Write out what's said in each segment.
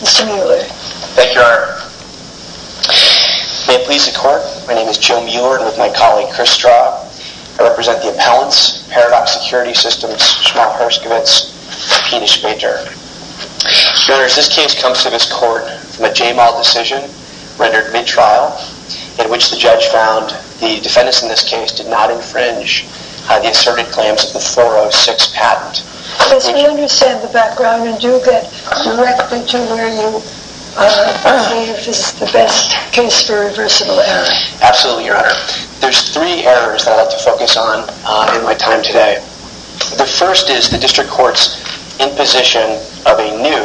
Mr. Mueller. May it please the court, my name is Joe Mueller and with my colleague Chris Straub, I represent the Appellants, Paradox Security Systems, Schmaltz-Hirskovitz, Peenish Bay Dirt. Your Honor, as this case comes to this court from a JMAL decision rendered mid-trial in which the judge found the defendants in this case did not infringe the asserted claims of the 406 patent. Yes, we understand the background and do get directly to where you believe is the best case for reversible error. Absolutely, Your Honor. There's three errors that I'd like to focus on in my time today. The first is the district court's imposition of a new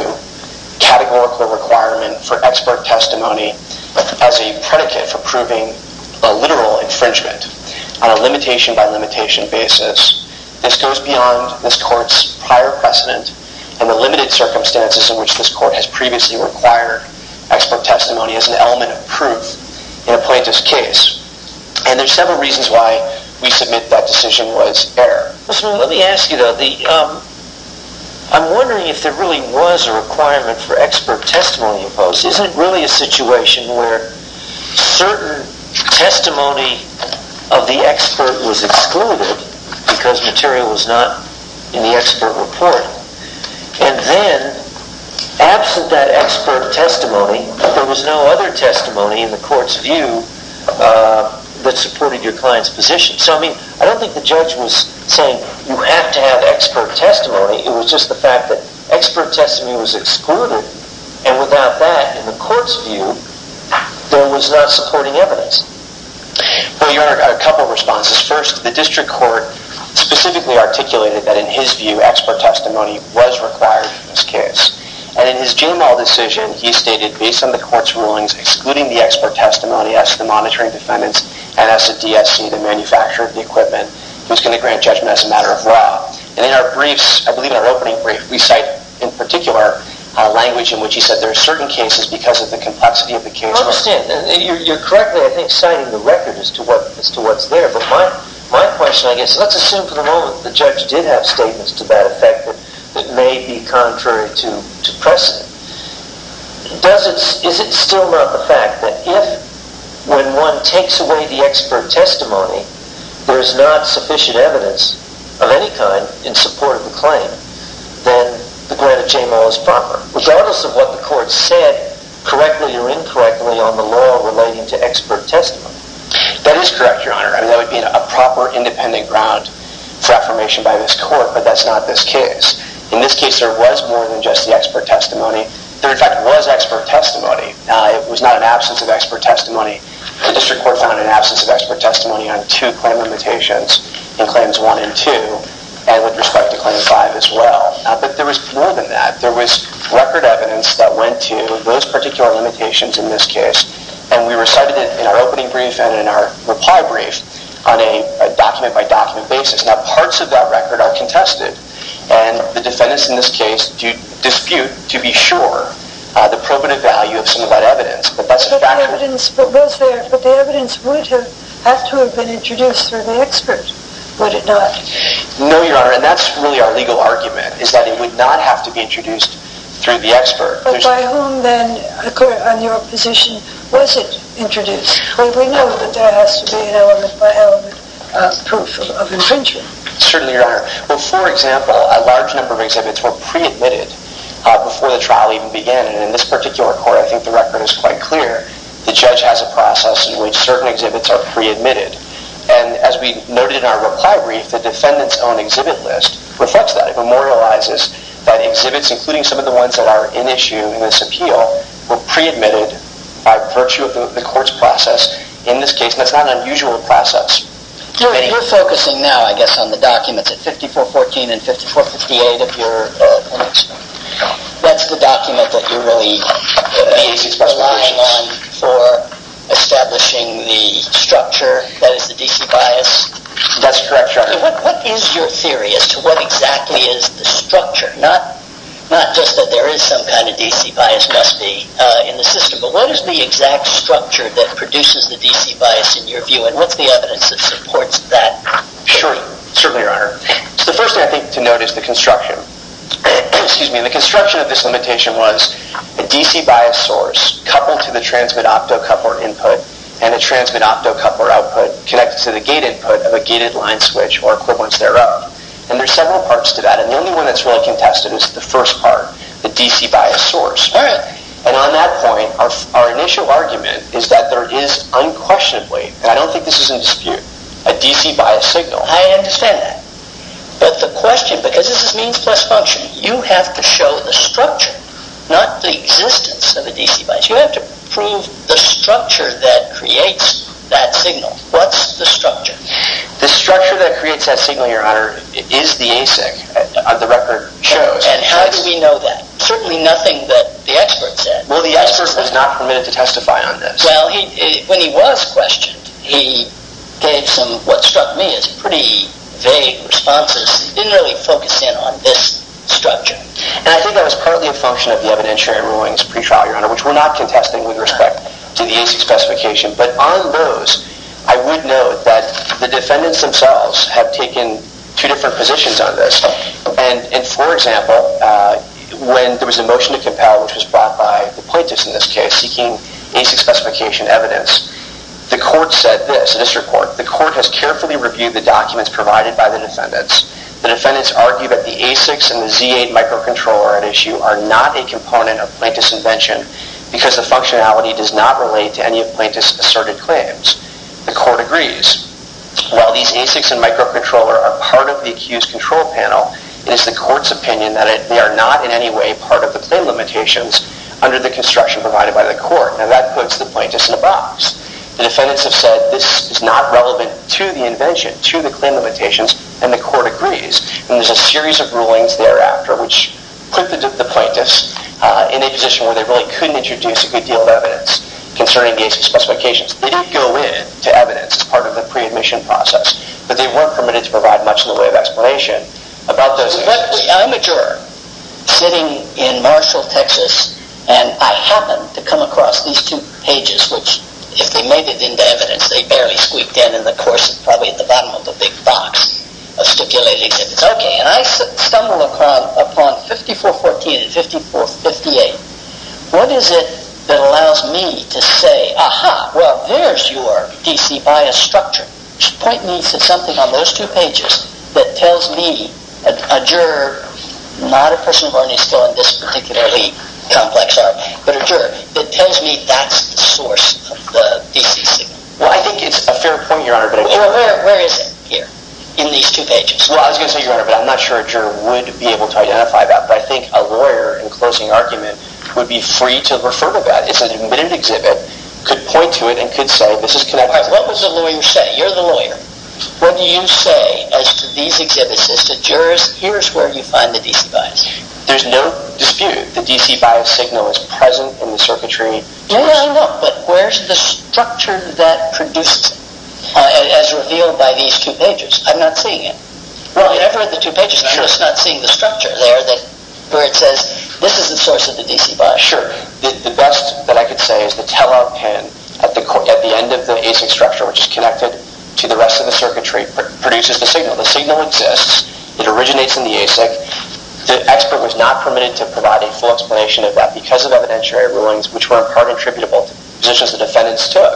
categorical requirement for expert testimony as a predicate for proving a literal infringement on a limitation by limitation basis. This goes beyond this court's prior precedent and the limited circumstances in which this court has previously required expert testimony as an element of proof in a plaintiff's case. And there's several reasons why we submit that decision was error. Let me ask you though, I'm wondering if there really was a requirement for expert testimony imposed. Isn't it really a situation where certain testimony of the expert was excluded because material was not in the expert report? And then, absent that expert testimony, there was no other testimony in the court's view that supported your client's position. So I mean, I don't think the judge was saying you have to have expert testimony. It was just the fact that expert testimony was excluded. And without that, in the court's view, there was not supporting evidence. Well, Your Honor, I've got a couple of responses. First, the district court specifically articulated that in his view, expert testimony was required in this case. And in his general decision, he stated, based on the court's rulings, excluding the expert testimony as the monitoring defendants and as the DSC, the manufacturer of the equipment, who's going to grant judgment as a matter of law. And in our briefs, I believe in our opening brief, we cite in particular a language in which he said, there are certain cases because of the complexity of the case. I understand. You're correctly, I think, citing the record as to what's there. But my question, I guess, let's assume for the moment the judge did have statements to that effect that may be contrary to precedent. Is it still not the fact that if, when one takes away the any kind in support of the claim, then the grant of JMO is proper? Regardless of what the court said, correctly or incorrectly on the law relating to expert testimony. That is correct, Your Honor. I mean, that would be a proper independent ground for affirmation by this court. But that's not this case. In this case, there was more than just the expert testimony. There, in fact, was expert testimony. It was not an absence of expert testimony. The district court found an absence of expert testimony on two claim limitations, in claims one and two, and with respect to claim five as well. But there was more than that. There was record evidence that went to those particular limitations in this case. And we recited it in our opening brief and in our reply brief on a document-by-document basis. Now, parts of that record are contested. And the defendants in this case dispute, to be sure, the probative value of some of that evidence. But that's a fact. But the evidence was there. But the evidence would have had to have been introduced through the expert, would it not? No, Your Honor. And that's really our legal argument, is that it would not have to be introduced through the expert. But by whom, then, on your position, was it introduced? We know that there has to be an element-by-element proof of infringement. Certainly, Your Honor. Well, for example, a large number of exhibits were pre-admitted before the trial even began. And in this particular court, I think the record is quite clear. The judge has a process in which certain exhibits are pre-admitted. And as we noted in our reply brief, the defendant's own exhibit list reflects that. It memorializes that exhibits, including some of the ones that are in issue in this appeal, were pre-admitted by virtue of the court's process in this case. And that's not an unusual process. You're focusing now, I guess, on the documents at 5414 and 5458 of your limits. That's the limit for establishing the structure that is the D.C. bias? That's correct, Your Honor. And what is your theory as to what exactly is the structure? Not just that there is some kind of D.C. bias must be in the system, but what is the exact structure that produces the D.C. bias, in your view? And what's the evidence that supports that? Sure. Certainly, Your Honor. So the first thing, I think, to note is the construction. Excuse me. The construction of this limitation was a D.C. bias source coupled to the transmit optocoupler input and a transmit optocoupler output connected to the gate input of a gated line switch or equivalents thereof. And there's several parts to that. And the only one that's really contested is the first part, the D.C. bias source. All right. And on that point, our initial argument is that there is unquestionably, and I don't think this is in dispute, a D.C. bias signal. I understand that. But the question, because this is means plus function, you have to show the structure, not the existence of a D.C. bias. You have to prove the structure that creates that signal. What's the structure? The structure that creates that signal, Your Honor, is the ASIC, the record shows. And how do we know that? Certainly nothing that the expert said. Well, the expert was not permitted to testify on this. Well, when he was questioned, he gave some, what struck me as pretty vague responses. He didn't really focus in on this structure. And I think that was partly a function of the evidentiary rulings pre-trial, Your Honor, which we're not contesting with respect to the ASIC specification. But on those, I would note that the defendants themselves have taken two different positions on this. And for example, when there was a motion to compel, which was brought by the plaintiffs in this case, seeking ASIC specification evidence, the court said this, the district court, the court has carefully reviewed the documents provided by the defendants. The defendants argue that the ASICs and the Z-8 microcontroller at issue are not a component of plaintiff's invention because the functionality does not relate to any of plaintiff's asserted claims. The court agrees. While these ASICs and microcontroller are part of the accused control panel, it is the court's opinion that they are not in any way part of the claim limitations under the plaintiffs in the box. The defendants have said this is not relevant to the invention, to the claim limitations, and the court agrees. And there's a series of rulings thereafter which put the plaintiffs in a position where they really couldn't introduce a good deal of evidence concerning ASIC specifications. They did go into evidence as part of the pre-admission process, but they weren't permitted to provide much in the way of explanation about those cases. I'm a juror sitting in Marshall, Texas, and I happen to come across these two pages which if they made it into evidence they barely squeaked in and the course is probably at the bottom of a big box of stipulated exhibits. Okay, and I stumble upon 5414 and 5458. What is it that allows me to say, aha, well there's your D.C. bias structure. Point me to something on those two pages that tells me, a juror, not a person who already is still in this particularly complex art, but a juror, that tells me that's the source of the D.C. signal. Well, I think it's a fair point, Your Honor. Well, where is it here in these two pages? Well, I was going to say, Your Honor, but I'm not sure a juror would be able to identify that, but I think a lawyer in closing argument would be free to refer to that. It's an admitted What does a lawyer say? You're the lawyer. What do you say as to these exhibits, as to jurors, here's where you find the D.C. bias. There's no dispute. The D.C. bias signal is present in the circuitry. No, no, no, but where's the structure that produces it as revealed by these two pages? I'm not seeing it. Well, I've read the two pages and I'm just not seeing the structure there where it says this is the source of the D.C. bias. Sure. The best that I could say is the tell-all pin at the end of the ASIC structure, which is connected to the rest of the circuitry, produces the signal. The signal exists. It originates in the ASIC. The expert was not permitted to provide a full explanation of that because of evidentiary rulings, which were in part attributable to positions the defendants took,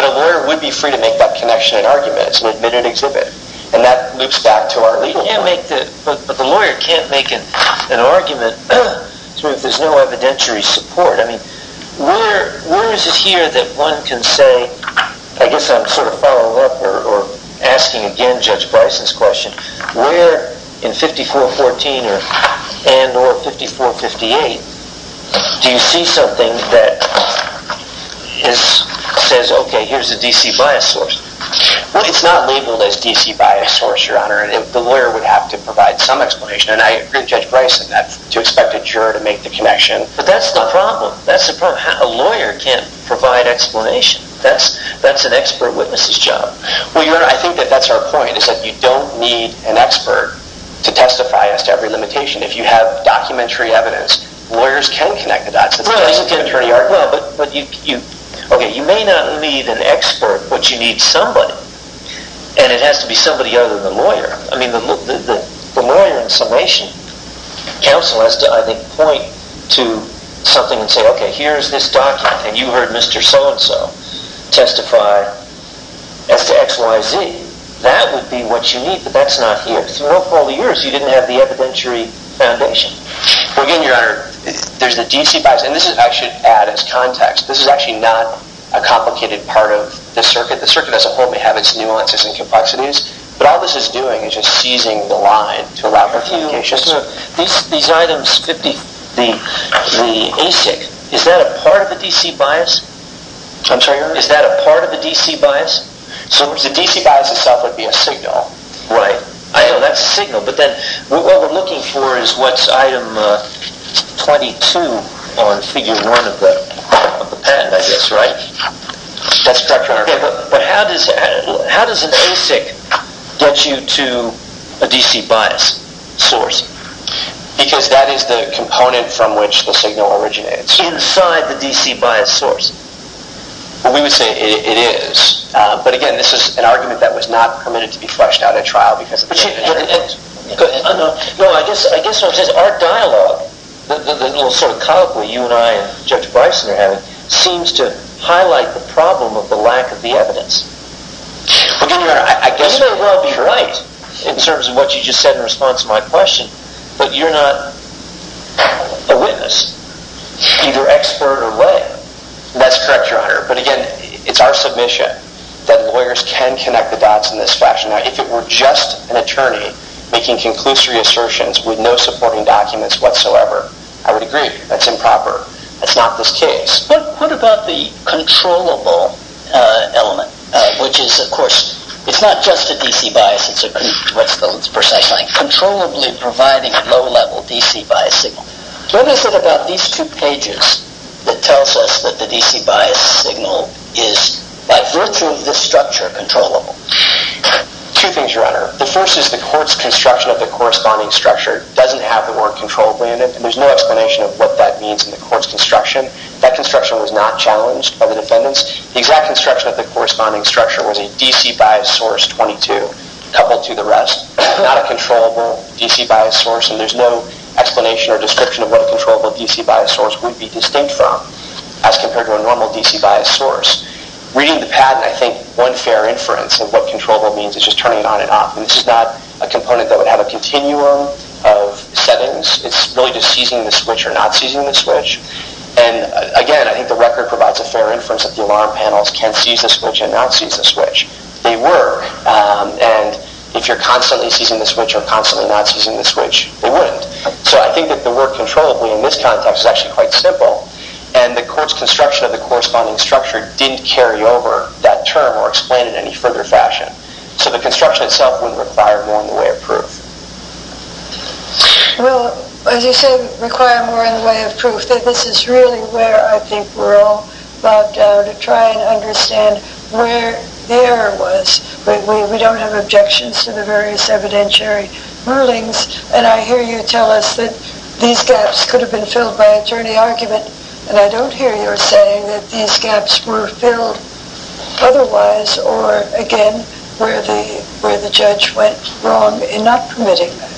but a lawyer would be free to make that connection in argument. It's an admitted exhibit, and that loops back to our legal work. But the lawyer can't make an argument if there's no evidentiary support. I mean, where is it here that one can say, I guess I'm sort of following up or asking again Judge Bryson's question, where in 5414 and or 5458 do you see something that says, okay, here's the D.C. bias source, Your Honor, and the lawyer would have to provide some explanation. And I agree with Judge Bryson to expect a juror to make the connection. But that's the problem. That's the problem. A lawyer can't provide explanation. That's an expert witness's job. Well, Your Honor, I think that that's our point, is that you don't need an expert to testify as to every limitation. If you have documentary evidence, lawyers can connect the dots. Okay, you may not need an expert, but you need somebody, and it has to be somebody other than the lawyer. I mean, the lawyer in summation counsel has to, I think, point to something and say, okay, here's this document, and you heard Mr. So-and-so testify as to X, Y, Z. That would be what you need, but that's not here. Throughout all the years, you didn't have the evidentiary foundation. Well, again, Your Honor, there's the D.C. bias, and this is actually added as context. This is actually not a complicated part of the circuit. The circuit as a whole may have its nuances and complexities, but all this is doing is just seizing the line to allow for complications. These items, the ASIC, is that a part of the D.C. bias? I'm sorry, Your Honor? Is that a part of the D.C. bias? The D.C. bias itself would be a signal. Right. I know that's a signal, but then what we're looking for is what's item 22 on figure one of the pen, I guess, right? That's correct, Your Honor. Okay, but how does an ASIC get you to a D.C. bias source? Because that is the component from which the signal originates. Inside the D.C. bias source. Well, we would say it is, but again, this is an argument that was not permitted to be fleshed out at trial because of the nature of the evidence. No, I guess what I'm saying is our dialogue, the little sort of colloquy you and I and Judge Bryson are having, seems to highlight the problem of the lack of the evidence. Well, again, Your Honor, I guess... You may well be right in terms of what you just said in response to my question, but you're not a witness, either expert or lay. That's correct, Your Honor. But again, it's our submission that lawyers can connect the dots in this fashion. Now, if it were just an attorney making conclusory assertions with no supporting documents whatsoever, I would agree that's improper. That's not this case. But what about the controllable element, which is, of course, it's not just a D.C. bias. It's controllably providing a low-level D.C. bias signal. What is it about these two pages that tells us that the D.C. bias signal is, by virtue of this structure, controllable? Two things, Your Honor. The first is the court's construction of the corresponding structure doesn't have the word controllably in it, and there's no explanation of what that means in the court's construction. That construction was not challenged by the defendants. The exact construction of the corresponding structure was a D.C. bias source 22 coupled to the rest, not a controllable D.C. bias source, and there's no explanation or description of what a controllable D.C. bias source would be distinct from as compared to a normal D.C. bias source. Reading the patent, I think one fair inference of what controllable means is just turning it on and off. This is not a component that would have a continuum of settings. It's really just seizing the switch or not seizing the switch. Again, I think the record provides a fair inference that the alarm panels can seize the switch and not seize the switch. They were, and if you're constantly seizing the switch or constantly not seizing the switch, they wouldn't. So I think that the word controllably in this context is actually quite simple, and the court's construction of the corresponding structure didn't carry over that term or explain it in any further fashion. So the construction itself wouldn't require more in the way of proof. Well, as you said, require more in the way of proof. This is really where I think we're all bogged down to try and understand where the error was. We don't have objections to the various evidentiary rulings, and I hear you tell us that these gaps could have been filled by attorney argument, and I don't hear you saying that these gaps were filled otherwise or, again, where the judge went wrong in not permitting that.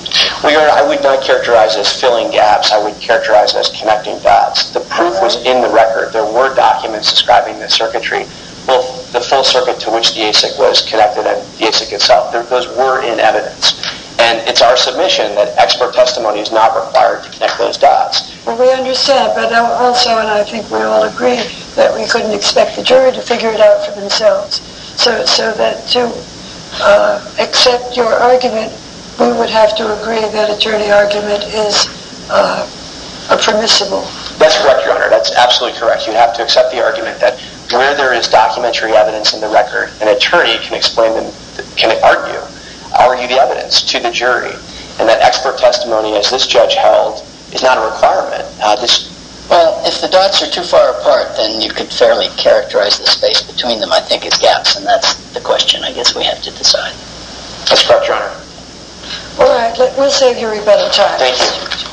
Well, Your Honor, I would not characterize it as filling gaps. I would characterize it as connecting dots. The proof was in the record. There were documents describing the circuitry, both the full circuit to which the ASIC was connected and the ASIC itself. Those were in evidence, and it's our submission that expert testimony is not required to connect those dots. Well, we understand, but also, and I think we all agree, that we couldn't expect the jury to figure it out for themselves. So that to accept your argument, we would have to agree that attorney argument is permissible. That's correct, Your Honor. That's absolutely correct. You have to accept the argument that where there is documentary evidence in the record, an attorney can explain them, can argue, argue the evidence to the jury, and that expert Well, if the dots are too far apart, then you could fairly characterize the space between them, I think, as gaps, and that's the question, I guess, we have to decide. That's correct, Your Honor. All right. We'll save your rebuttal time. Thank you.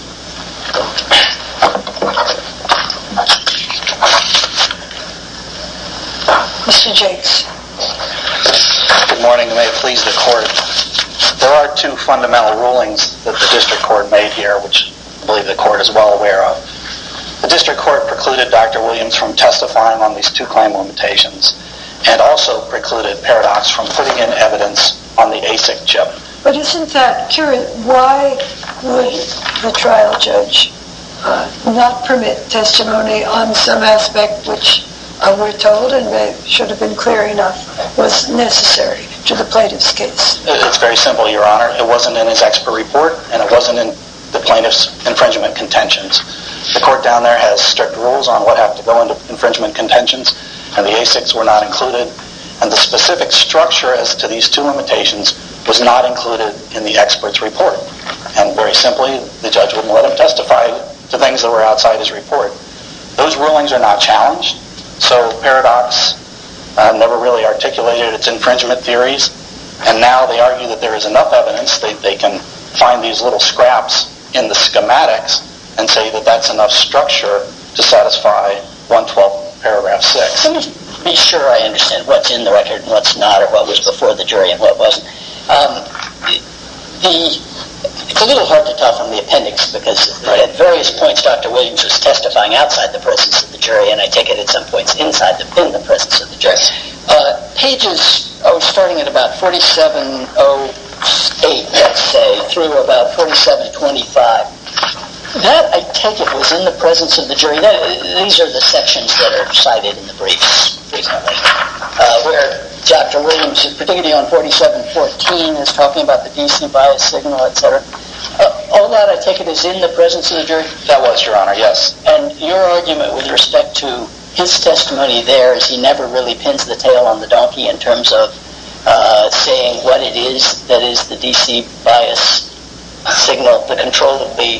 Mr. Jakes. Good morning. May it please the court. There are two fundamental rulings that the district court made here, which I believe the court is well aware of. The district court precluded Dr. Williams from testifying on these two claim limitations, and also precluded Paradox from putting in evidence on the ASIC chip. But isn't that curious, why would the trial judge not permit testimony on some aspect which we're told, and should have been clear enough, was necessary to the plaintiff's case? It's very simple, Your Honor. It wasn't in his expert report, and it wasn't in the plaintiff's infringement contentions. The court down there has strict rules on what have to go into infringement contentions, and the ASICs were not included, and the specific structure as to these two limitations was not included in the expert's report. And very simply, the judge wouldn't let him testify to things that were outside his report. Those rulings are not challenged, so Paradox never really articulated its infringement theories, and now they argue that there is enough evidence that they can find these little scraps in the schematics and say that that's enough structure to satisfy 112 paragraph 6. Let me be sure I understand what's in the record and what's not, or what was before the jury and what wasn't. It's a little hard to tell from the appendix, because at various points Dr. Williams was testifying outside the presence of the jury, and I take it at some points inside the presence of the jury. Pages starting at about 4708, let's say, through about 4725. That, I take it, was in the presence of the jury. These are the sections that are cited in the briefs, for example, where Dr. Williams, particularly on 4714, is talking about the DC bias signal, etc. All that, I take it, is in the presence of the jury? That was, Your Honor, yes. And your argument with respect to his testimony there is he never really pins the tail on the donkey in terms of saying what it is that is the DC bias signal, the control of the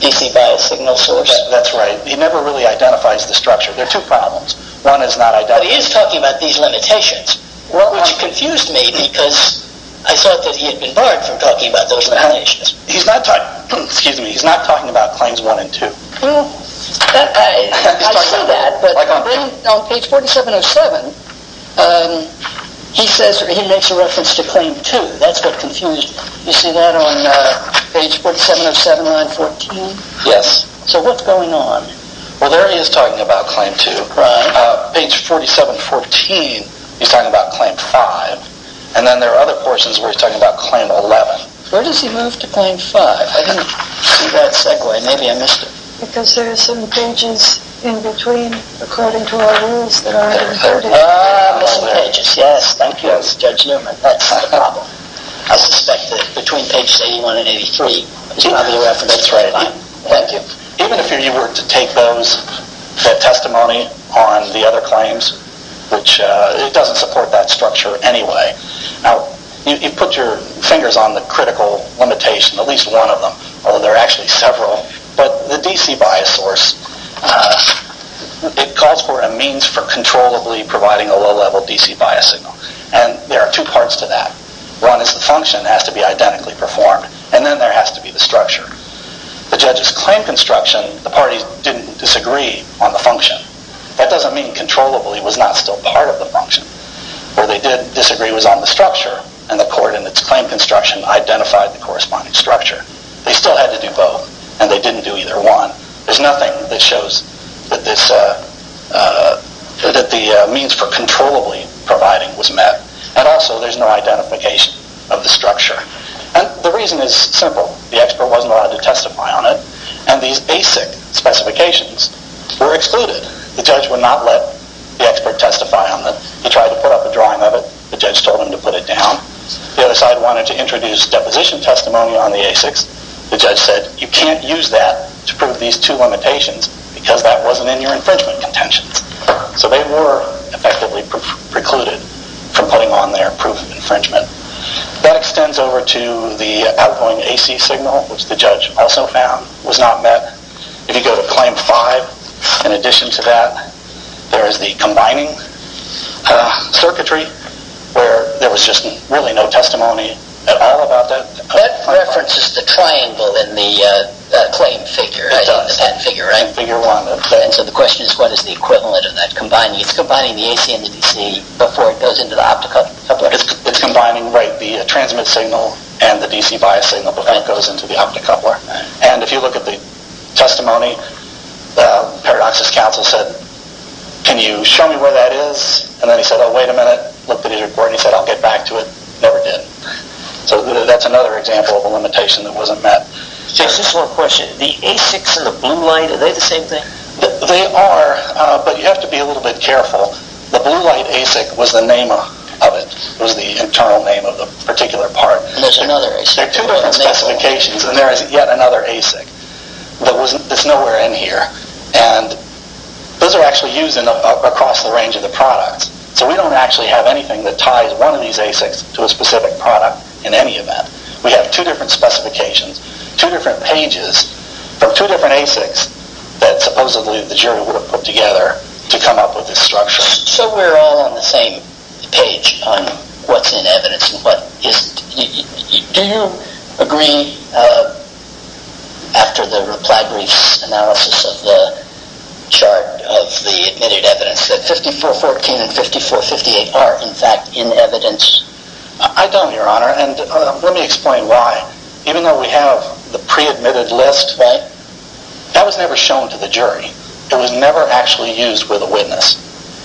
DC bias signal source. That's right. He never really identifies the structure. There are two problems. One is not identifying... But he is talking about these limitations, which confused me, because I thought that he had been barred from talking about those limitations. He's not talking about claims 1 and 2. Well, I see that, but then on page 4707, he makes a reference to claim 2. That's what confused me. You see that on page 4707, line 14? Yes. So what's going on? Well, there he is talking about claim 2. Right. Page 4714, he's talking about claim 5, and then there are other portions where he's talking about claim 11. Where does he move to claim 5? I didn't see that segue. Maybe I missed it. Because there are some pages in between, according to our rules, that aren't included. Ah, missed pages. Yes, thank you. That's Judge Newman. That's the problem. I suspect that between pages 81 and 83, he's got the reference right on. Thank you. Even if you were to take those, the testimony on the other claims, which it doesn't support that structure anyway. Now, you put your fingers on the critical limitation, at least one of them, although there are actually several. But the DC bias source, it calls for a means for controllably providing a low-level DC bias signal. And there are two parts to that. One is the function has to be identically performed, and then there has to be the structure. The judges claim construction, the parties didn't disagree on the function. Where they did disagree was on the structure. And the court in its claim construction identified the corresponding structure. They still had to do both, and they didn't do either one. There's nothing that shows that the means for controllably providing was met. And also, there's no identification of the structure. And the reason is simple. The expert wasn't allowed to testify on it, and these basic specifications were excluded. The judge would not let the expert testify on them. He tried to put up a drawing of it. The judge told him to put it down. The other side wanted to introduce deposition testimony on the ASICs. The judge said, you can't use that to prove these two limitations because that wasn't in your infringement contentions. So they were effectively precluded from putting on their proof of infringement. That extends over to the outgoing AC signal, which the judge also found was not met. If you go to claim five, in addition to that, there is the combining circuitry, where there was just really no testimony at all about that. That references the triangle in the claim figure, the patent figure, right? Figure one. And so the question is, what is the equivalent of that combining? It's combining the AC and the DC before it goes into the optocoupler. It's combining, right, the transmit signal and the DC bias signal before it goes into the optocoupler. And if you look at the testimony, Paradox's counsel said, can you show me where that is? And then he said, oh, wait a minute. Looked at his report and he said, I'll get back to it. Never did. So that's another example of a limitation that wasn't met. Chase, just one question. The ASICs and the blue light, are they the same thing? They are, but you have to be a little bit careful. The blue light ASIC was the name of it. It was the internal name of the particular part. And there's another ASIC. There are two different specifications and there is yet another ASIC that's nowhere in here. And those are actually used across the range of the products. So we don't actually have anything that ties one of these ASICs to a specific product in any event. We have two different specifications, two different pages from two different ASICs that supposedly the jury would have put together to come up with this structure. So we're all on the same page on what's in evidence and what isn't. Do you agree, after the reply brief analysis of the chart of the admitted evidence, that 5414 and 5458 are, in fact, in evidence? I don't, Your Honor, and let me explain why. Even though we have the pre-admitted list, that was never shown to the jury. It was never actually used with a witness.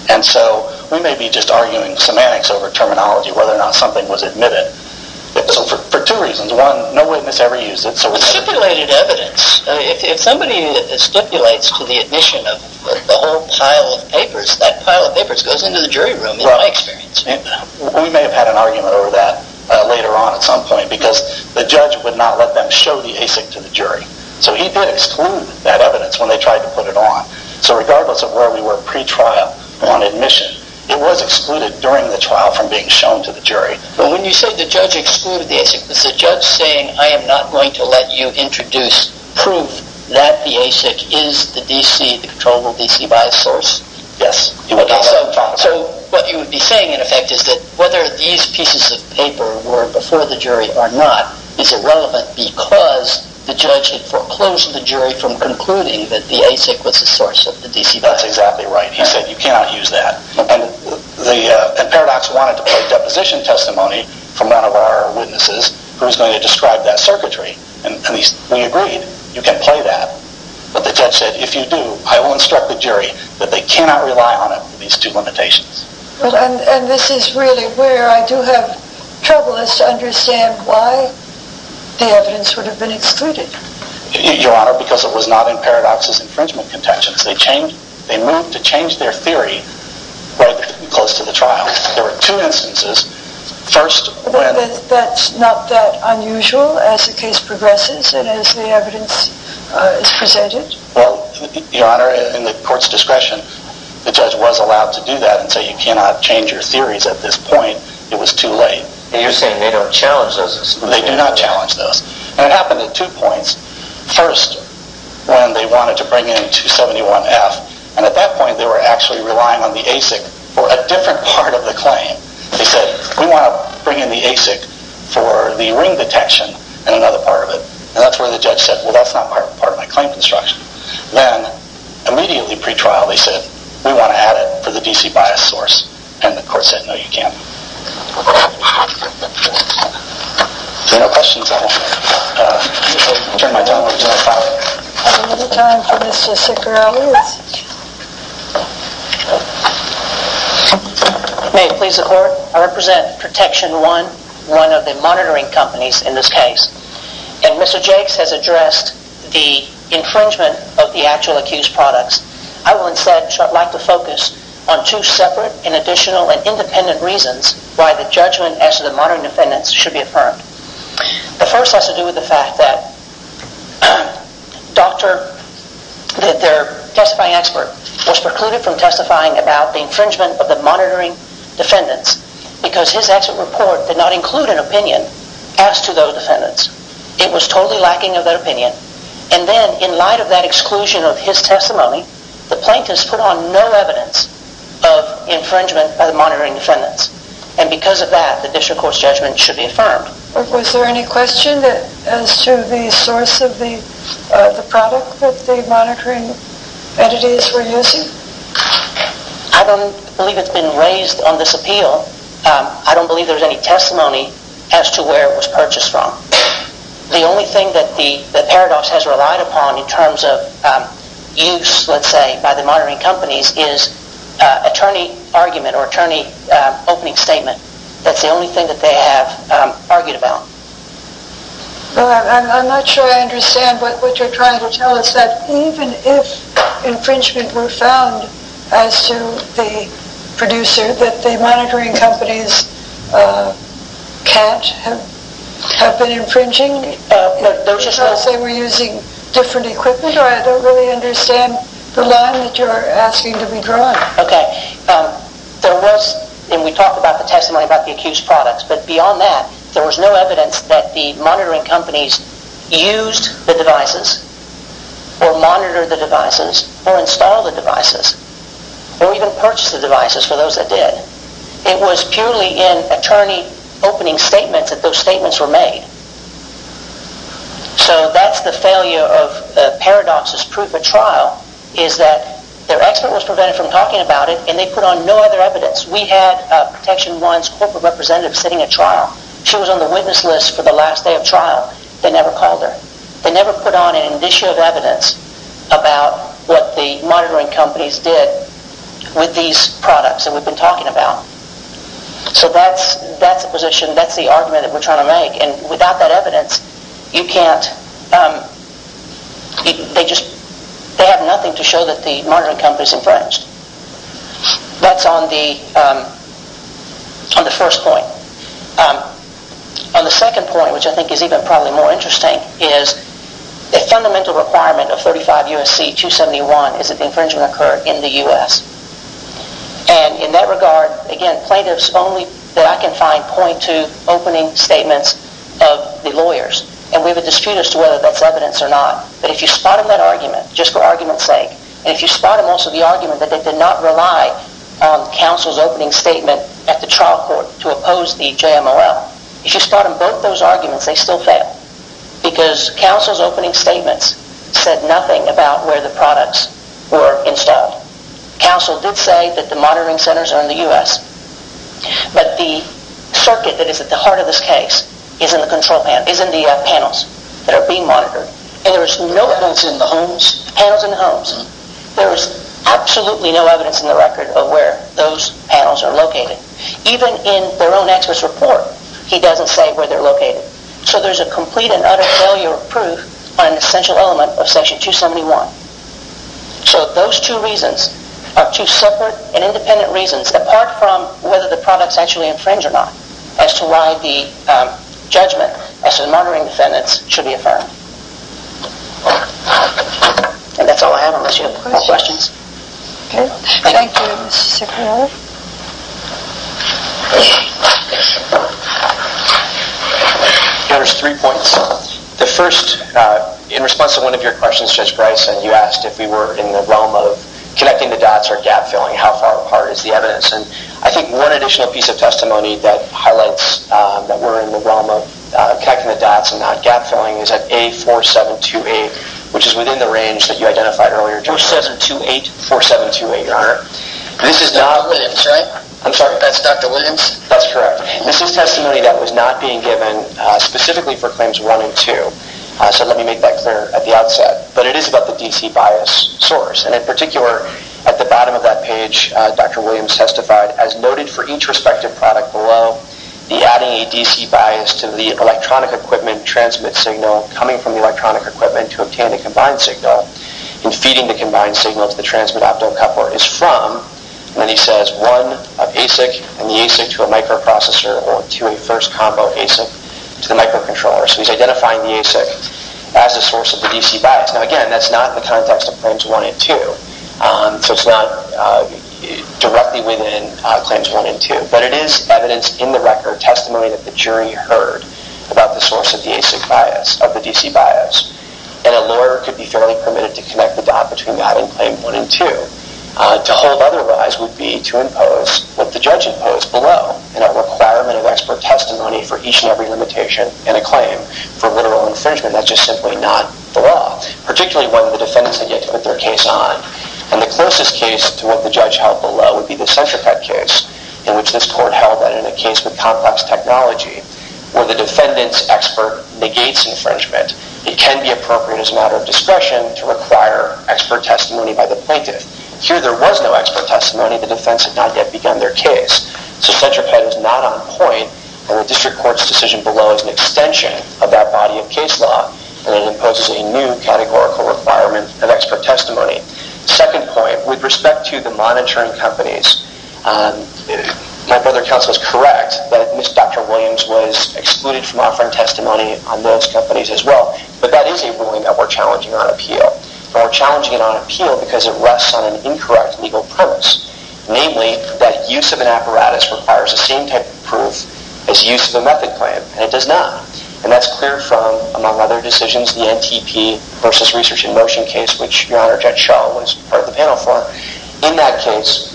And so we may be just arguing semantics over terminology, whether or not something was admitted. For two reasons. One, no witness ever used it. Stipulated evidence. If somebody stipulates to the admission of the whole pile of papers, that pile of papers goes into the jury room, in my experience. We may have had an argument over that later on at some point because the judge would not let them show the ASIC to the jury. So he did exclude that evidence when they tried to put it on. So regardless of where we were pre-trial on admission, it was excluded during the trial from being shown to the jury. But when you say the judge excluded the ASIC, was the judge saying, I am not going to let you introduce proof that the ASIC is the DC, the controllable DC bias source? Yes. So what you would be saying, in effect, is that whether these pieces of paper were before the jury or not is irrelevant because the judge had foreclosed the jury from concluding that the ASIC was the source of the DC bias. That's exactly right. He said, you cannot use that. And Paradox wanted to play deposition testimony from one of our witnesses who was going to describe that circuitry. And we agreed, you can play that. But the judge said, if you do, I will instruct the jury that they cannot rely on it for these two limitations. And this is really where I do have trouble is to understand why the evidence would have been excluded. Your Honor, because it was not in Paradox's infringement contentions. They moved to change their theory right close to the trial. There were two instances. That's not that unusual as the case progresses and as the evidence is presented? Well, Your Honor, in the court's discretion, the judge was allowed to do that and say, you cannot change your theories at this point. It was too late. And you're saying they don't challenge those exclusions? They do not challenge those. And it happened at two points. First, when they wanted to bring in 271F. And at that point, they were actually relying on the ASIC for a different part of the claim. They said, we want to bring in the ASIC for the ring detection and another part of it. And that's where the judge said, well, that's not part of my claim construction. Then, immediately pre-trial, they said, we want to add it for the DC bias source. And the court said, no, you can't. Thank you. If there are no questions, I will turn my time over to my colleague. We have a little time for Mr. Sikorowicz. May it please the court? I represent Protection 1, one of the monitoring companies in this case. And Mr. Jakes has addressed the infringement of the actual accused products. I would instead like to focus on two separate and additional and independent reasons why the judgment as to the monitoring defendants should be affirmed. The first has to do with the fact that their testifying expert was precluded from testifying about the infringement of the monitoring defendants because his expert report did not include an opinion as to those defendants. It was totally lacking of that opinion. And then, in light of that exclusion of his testimony, the plaintiffs put on no evidence of infringement of the monitoring defendants. And because of that, the district court's judgment should be affirmed. Was there any question as to the source of the product that the monitoring entities were using? I don't believe it's been raised on this appeal. I don't believe there's any testimony as to where it was purchased from. The only thing that Paradox has relied upon in terms of use, let's say, by the monitoring companies is attorney argument or attorney opening statement. That's the only thing that they have argued about. I'm not sure I understand what you're trying to tell us, that even if infringement were found as to the producer, that the monitoring companies can't have been infringing because they were using different equipment? Or I don't really understand the line that you're asking to be drawn. Okay. There was, and we talked about the testimony about the accused products, but beyond that, there was no evidence that the monitoring companies used the devices or monitored the devices or installed the devices or even purchased the devices for those that did. It was purely in attorney opening statements that those statements were made. So that's the failure of Paradox's proof of trial is that their expert was prevented from talking about it and they put on no other evidence. We had Protection One's corporate representative sitting at trial. She was on the witness list for the last day of trial. They never called her. They never put on an issue of evidence about what the monitoring companies did with these products that we've been talking about. So that's the position, that's the argument that we're trying to make and without that evidence, you can't, they have nothing to show that the monitoring company's infringed. That's on the first point. On the second point, which I think is even probably more interesting, I think is the fundamental requirement of 35 U.S.C. 271 is that the infringement occur in the U.S. And in that regard, again, plaintiffs only that I can find point to opening statements of the lawyers and we have a dispute as to whether that's evidence or not. But if you spot them that argument, just for argument's sake, and if you spot them also the argument that they did not rely on counsel's opening statement at the trial court to oppose the JMLL, if you spot them both those arguments, they still fail. Because counsel's opening statements said nothing about where the products were installed. Counsel did say that the monitoring centers are in the U.S. But the circuit that is at the heart of this case is in the control panel, is in the panels that are being monitored. And there is no evidence in the homes? Panels in the homes. There is absolutely no evidence in the record of where those panels are located. Even in their own expert's report, he doesn't say where they're located. So there's a complete and utter failure of proof on an essential element of Section 271. So those two reasons are two separate and independent reasons apart from whether the products actually infringe or not as to why the judgment as to the monitoring defendants should be affirmed. And that's all I have unless you have more questions. Thank you, Mr. Ciccarone. There's three points. The first, in response to one of your questions, Judge Bryce, that you asked if we were in the realm of connecting the dots or gap-filling, how far apart is the evidence? And I think one additional piece of testimony that highlights that we're in the realm of connecting the dots and not gap-filling is at A4728, which is within the range that you identified earlier, Judge. A4728, 4728, Your Honor. This is not... Dr. Williams, right? I'm sorry. That's Dr. Williams? That's correct. This is testimony that was not being given specifically for Claims 1 and 2. So let me make that clear at the outset. But it is about the DC bias source. And in particular, at the bottom of that page, Dr. Williams testified, as noted for each respective product below, the adding a DC bias to the electronic equipment transmit signal coming from the electronic equipment to obtain a combined signal and feeding the combined signal to the transmit optocoupler is from, and then he says, one of ASIC and the ASIC to a microprocessor or to a first combo ASIC to the microcontroller. So he's identifying the ASIC as the source of the DC bias. Now, again, that's not in the context of Claims 1 and 2. So it's not directly within Claims 1 and 2. But it is evidence in the record, testimony that the jury heard about the source of the DC bias. And a lawyer could be fairly permitted to connect the dot between that and Claims 1 and 2. To hold otherwise would be to impose what the judge imposed below in a requirement of expert testimony for each and every limitation in a claim for literal infringement. That's just simply not the law, particularly when the defendants had yet to put their case on. And the closest case to what the judge held below would be the Centrifuge case, in which this court held that in a case with complex technology where the defendant's expert negates infringement, it can be appropriate as a matter of discretion to require expert testimony by the plaintiff. Here there was no expert testimony. The defense had not yet begun their case. So Centrifuge was not on point, and the district court's decision below is an extension of that body of case law, and it imposes a new categorical requirement of expert testimony. Second point, with respect to the monitoring companies, my brother counsel is correct that Ms. Dr. Williams was excluded from offering testimony on those companies as well. But that is a ruling that we're challenging on appeal, and we're challenging it on appeal because it rests on an incorrect legal premise, namely that use of an apparatus requires the same type of proof as use of a method claim, and it does not. And that's clear from, among other decisions, the NTP versus research in motion case, which Your Honor, Judge Schall was part of the panel for. In that case,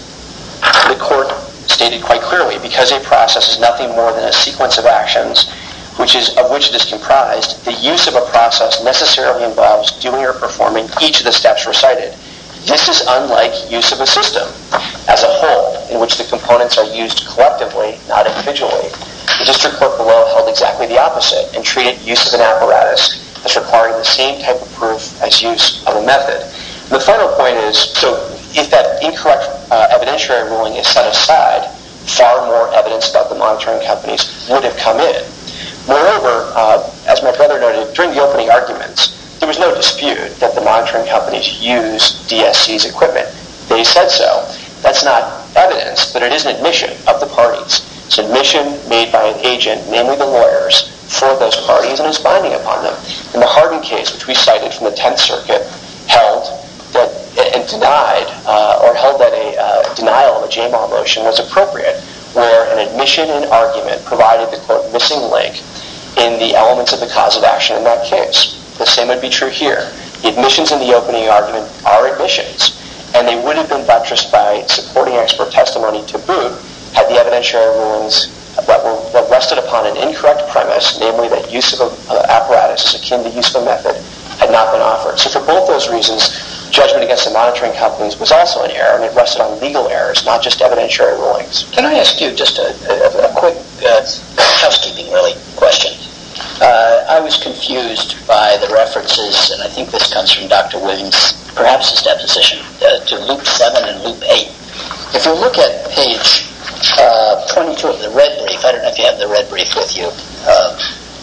the court stated quite clearly, because a process is nothing more than a sequence of actions of which it is comprised, the use of a process necessarily involves doing or performing each of the steps recited. This is unlike use of a system as a whole, in which the components are used collectively, not individually. The district court below held exactly the opposite and treated use of an apparatus as requiring the same type of proof as use of a method. The final point is, so if that incorrect evidentiary ruling is set aside, far more evidence about the monitoring companies would have come in. Moreover, as my brother noted, during the opening arguments, there was no dispute that the monitoring companies used DSC's equipment. They said so. That's not evidence, but it is an admission of the parties. It's admission made by an agent, namely the lawyers, for those parties and is binding upon them. In the Hardin case, which we cited from the Tenth Circuit, held that a denial of a JMAW motion was appropriate, where an admission and argument provided the, quote, missing link in the elements of the cause of action in that case. The same would be true here. The admissions in the opening argument are admissions, and they would have been buttressed by supporting expert testimony to boot had the evidentiary rulings rested upon an incorrect premise, namely that use of an apparatus is akin to use of a method, had not been offered. So for both those reasons, judgment against the monitoring companies was also an error, and it rested on legal errors, not just evidentiary rulings. Can I ask you just a quick housekeeping, really, question? I was confused by the references, and I think this comes from Dr. Williams, perhaps his deposition, to Loop 7 and Loop 8. If you look at page 22 of the red brief, I don't know if you have the red brief with you.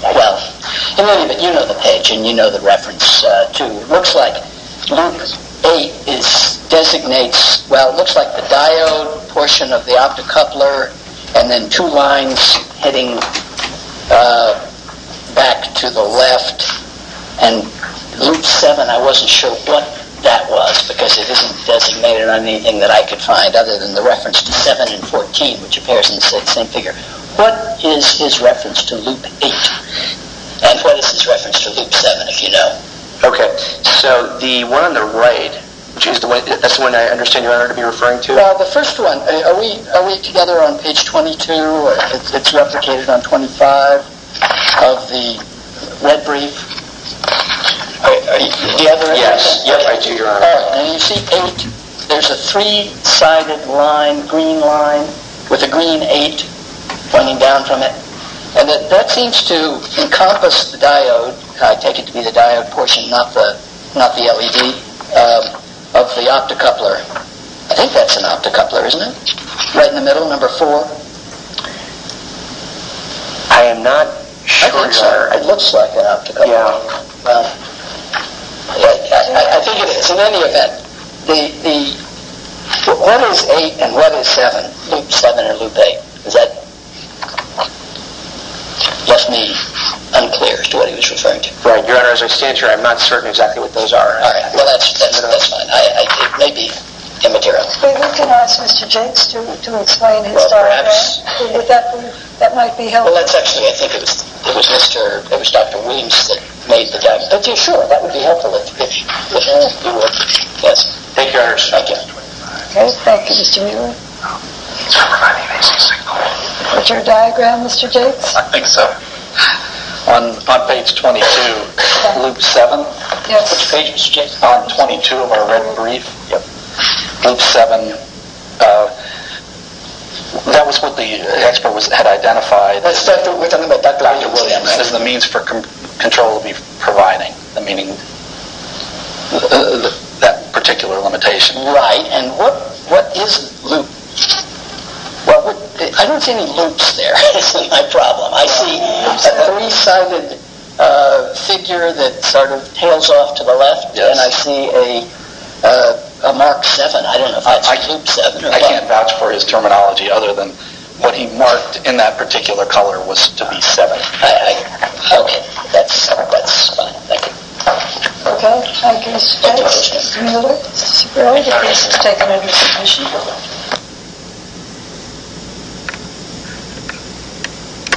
Well, you know the page, and you know the reference, too. It looks like Loop 8 designates, well, it looks like the diode portion of the optocoupler, and then two lines heading back to the left, and Loop 7, I wasn't sure what that was, because it isn't designated on anything that I could find other than the reference to 7 and 14, which appears in the same figure. What is his reference to Loop 8, and what is his reference to Loop 7, if you know? Okay, so the one on the right, that's the one I understand you aren't going to be referring to? Well, the first one, are we together on page 22, or it's replicated on 25, of the red brief? Yes, I do, Your Honor. And you see 8, there's a three-sided line, green line, with a green 8 pointing down from it, and that seems to encompass the diode, I take it to be the diode portion, not the LED, of the optocoupler. I think that's an optocoupler, isn't it? Right in the middle, number 4. I am not sure, Your Honor. It looks like an optocoupler. I think it is. So in any event, the what is 8 and what is 7, Loop 7 and Loop 8, that left me unclear as to what he was referring to. Right, Your Honor, as I stand here, I'm not certain exactly what those are. Well, that's fine. It may be immaterial. We can ask Mr. Jakes to explain his diagram. That might be helpful. Well, that's actually, I think it was Dr. Williams that made the diagram. Okay, sure, that would be helpful. Yes, thank you, Your Honor. Okay, thank you, Mr. Mueller. Is that your diagram, Mr. Jakes? I think so. On page 22, Loop 7. Yes. On page 22 of our red brief, Loop 7, that was what the expert had identified. Dr. Williams, that is the means for control we're providing, meaning that particular limitation. Right, and what is Loop? I don't see any loops there. That's my problem. I see a three-sided figure that sort of hails off to the left, and I see a mark 7. I don't know if that's Loop 7. I can't vouch for his terminology other than what he marked in that particular color was to be 7. Okay, that's fine. Thank you. Okay, thank you, Mr. Jakes. Mr. Mueller, the case is taken under submission.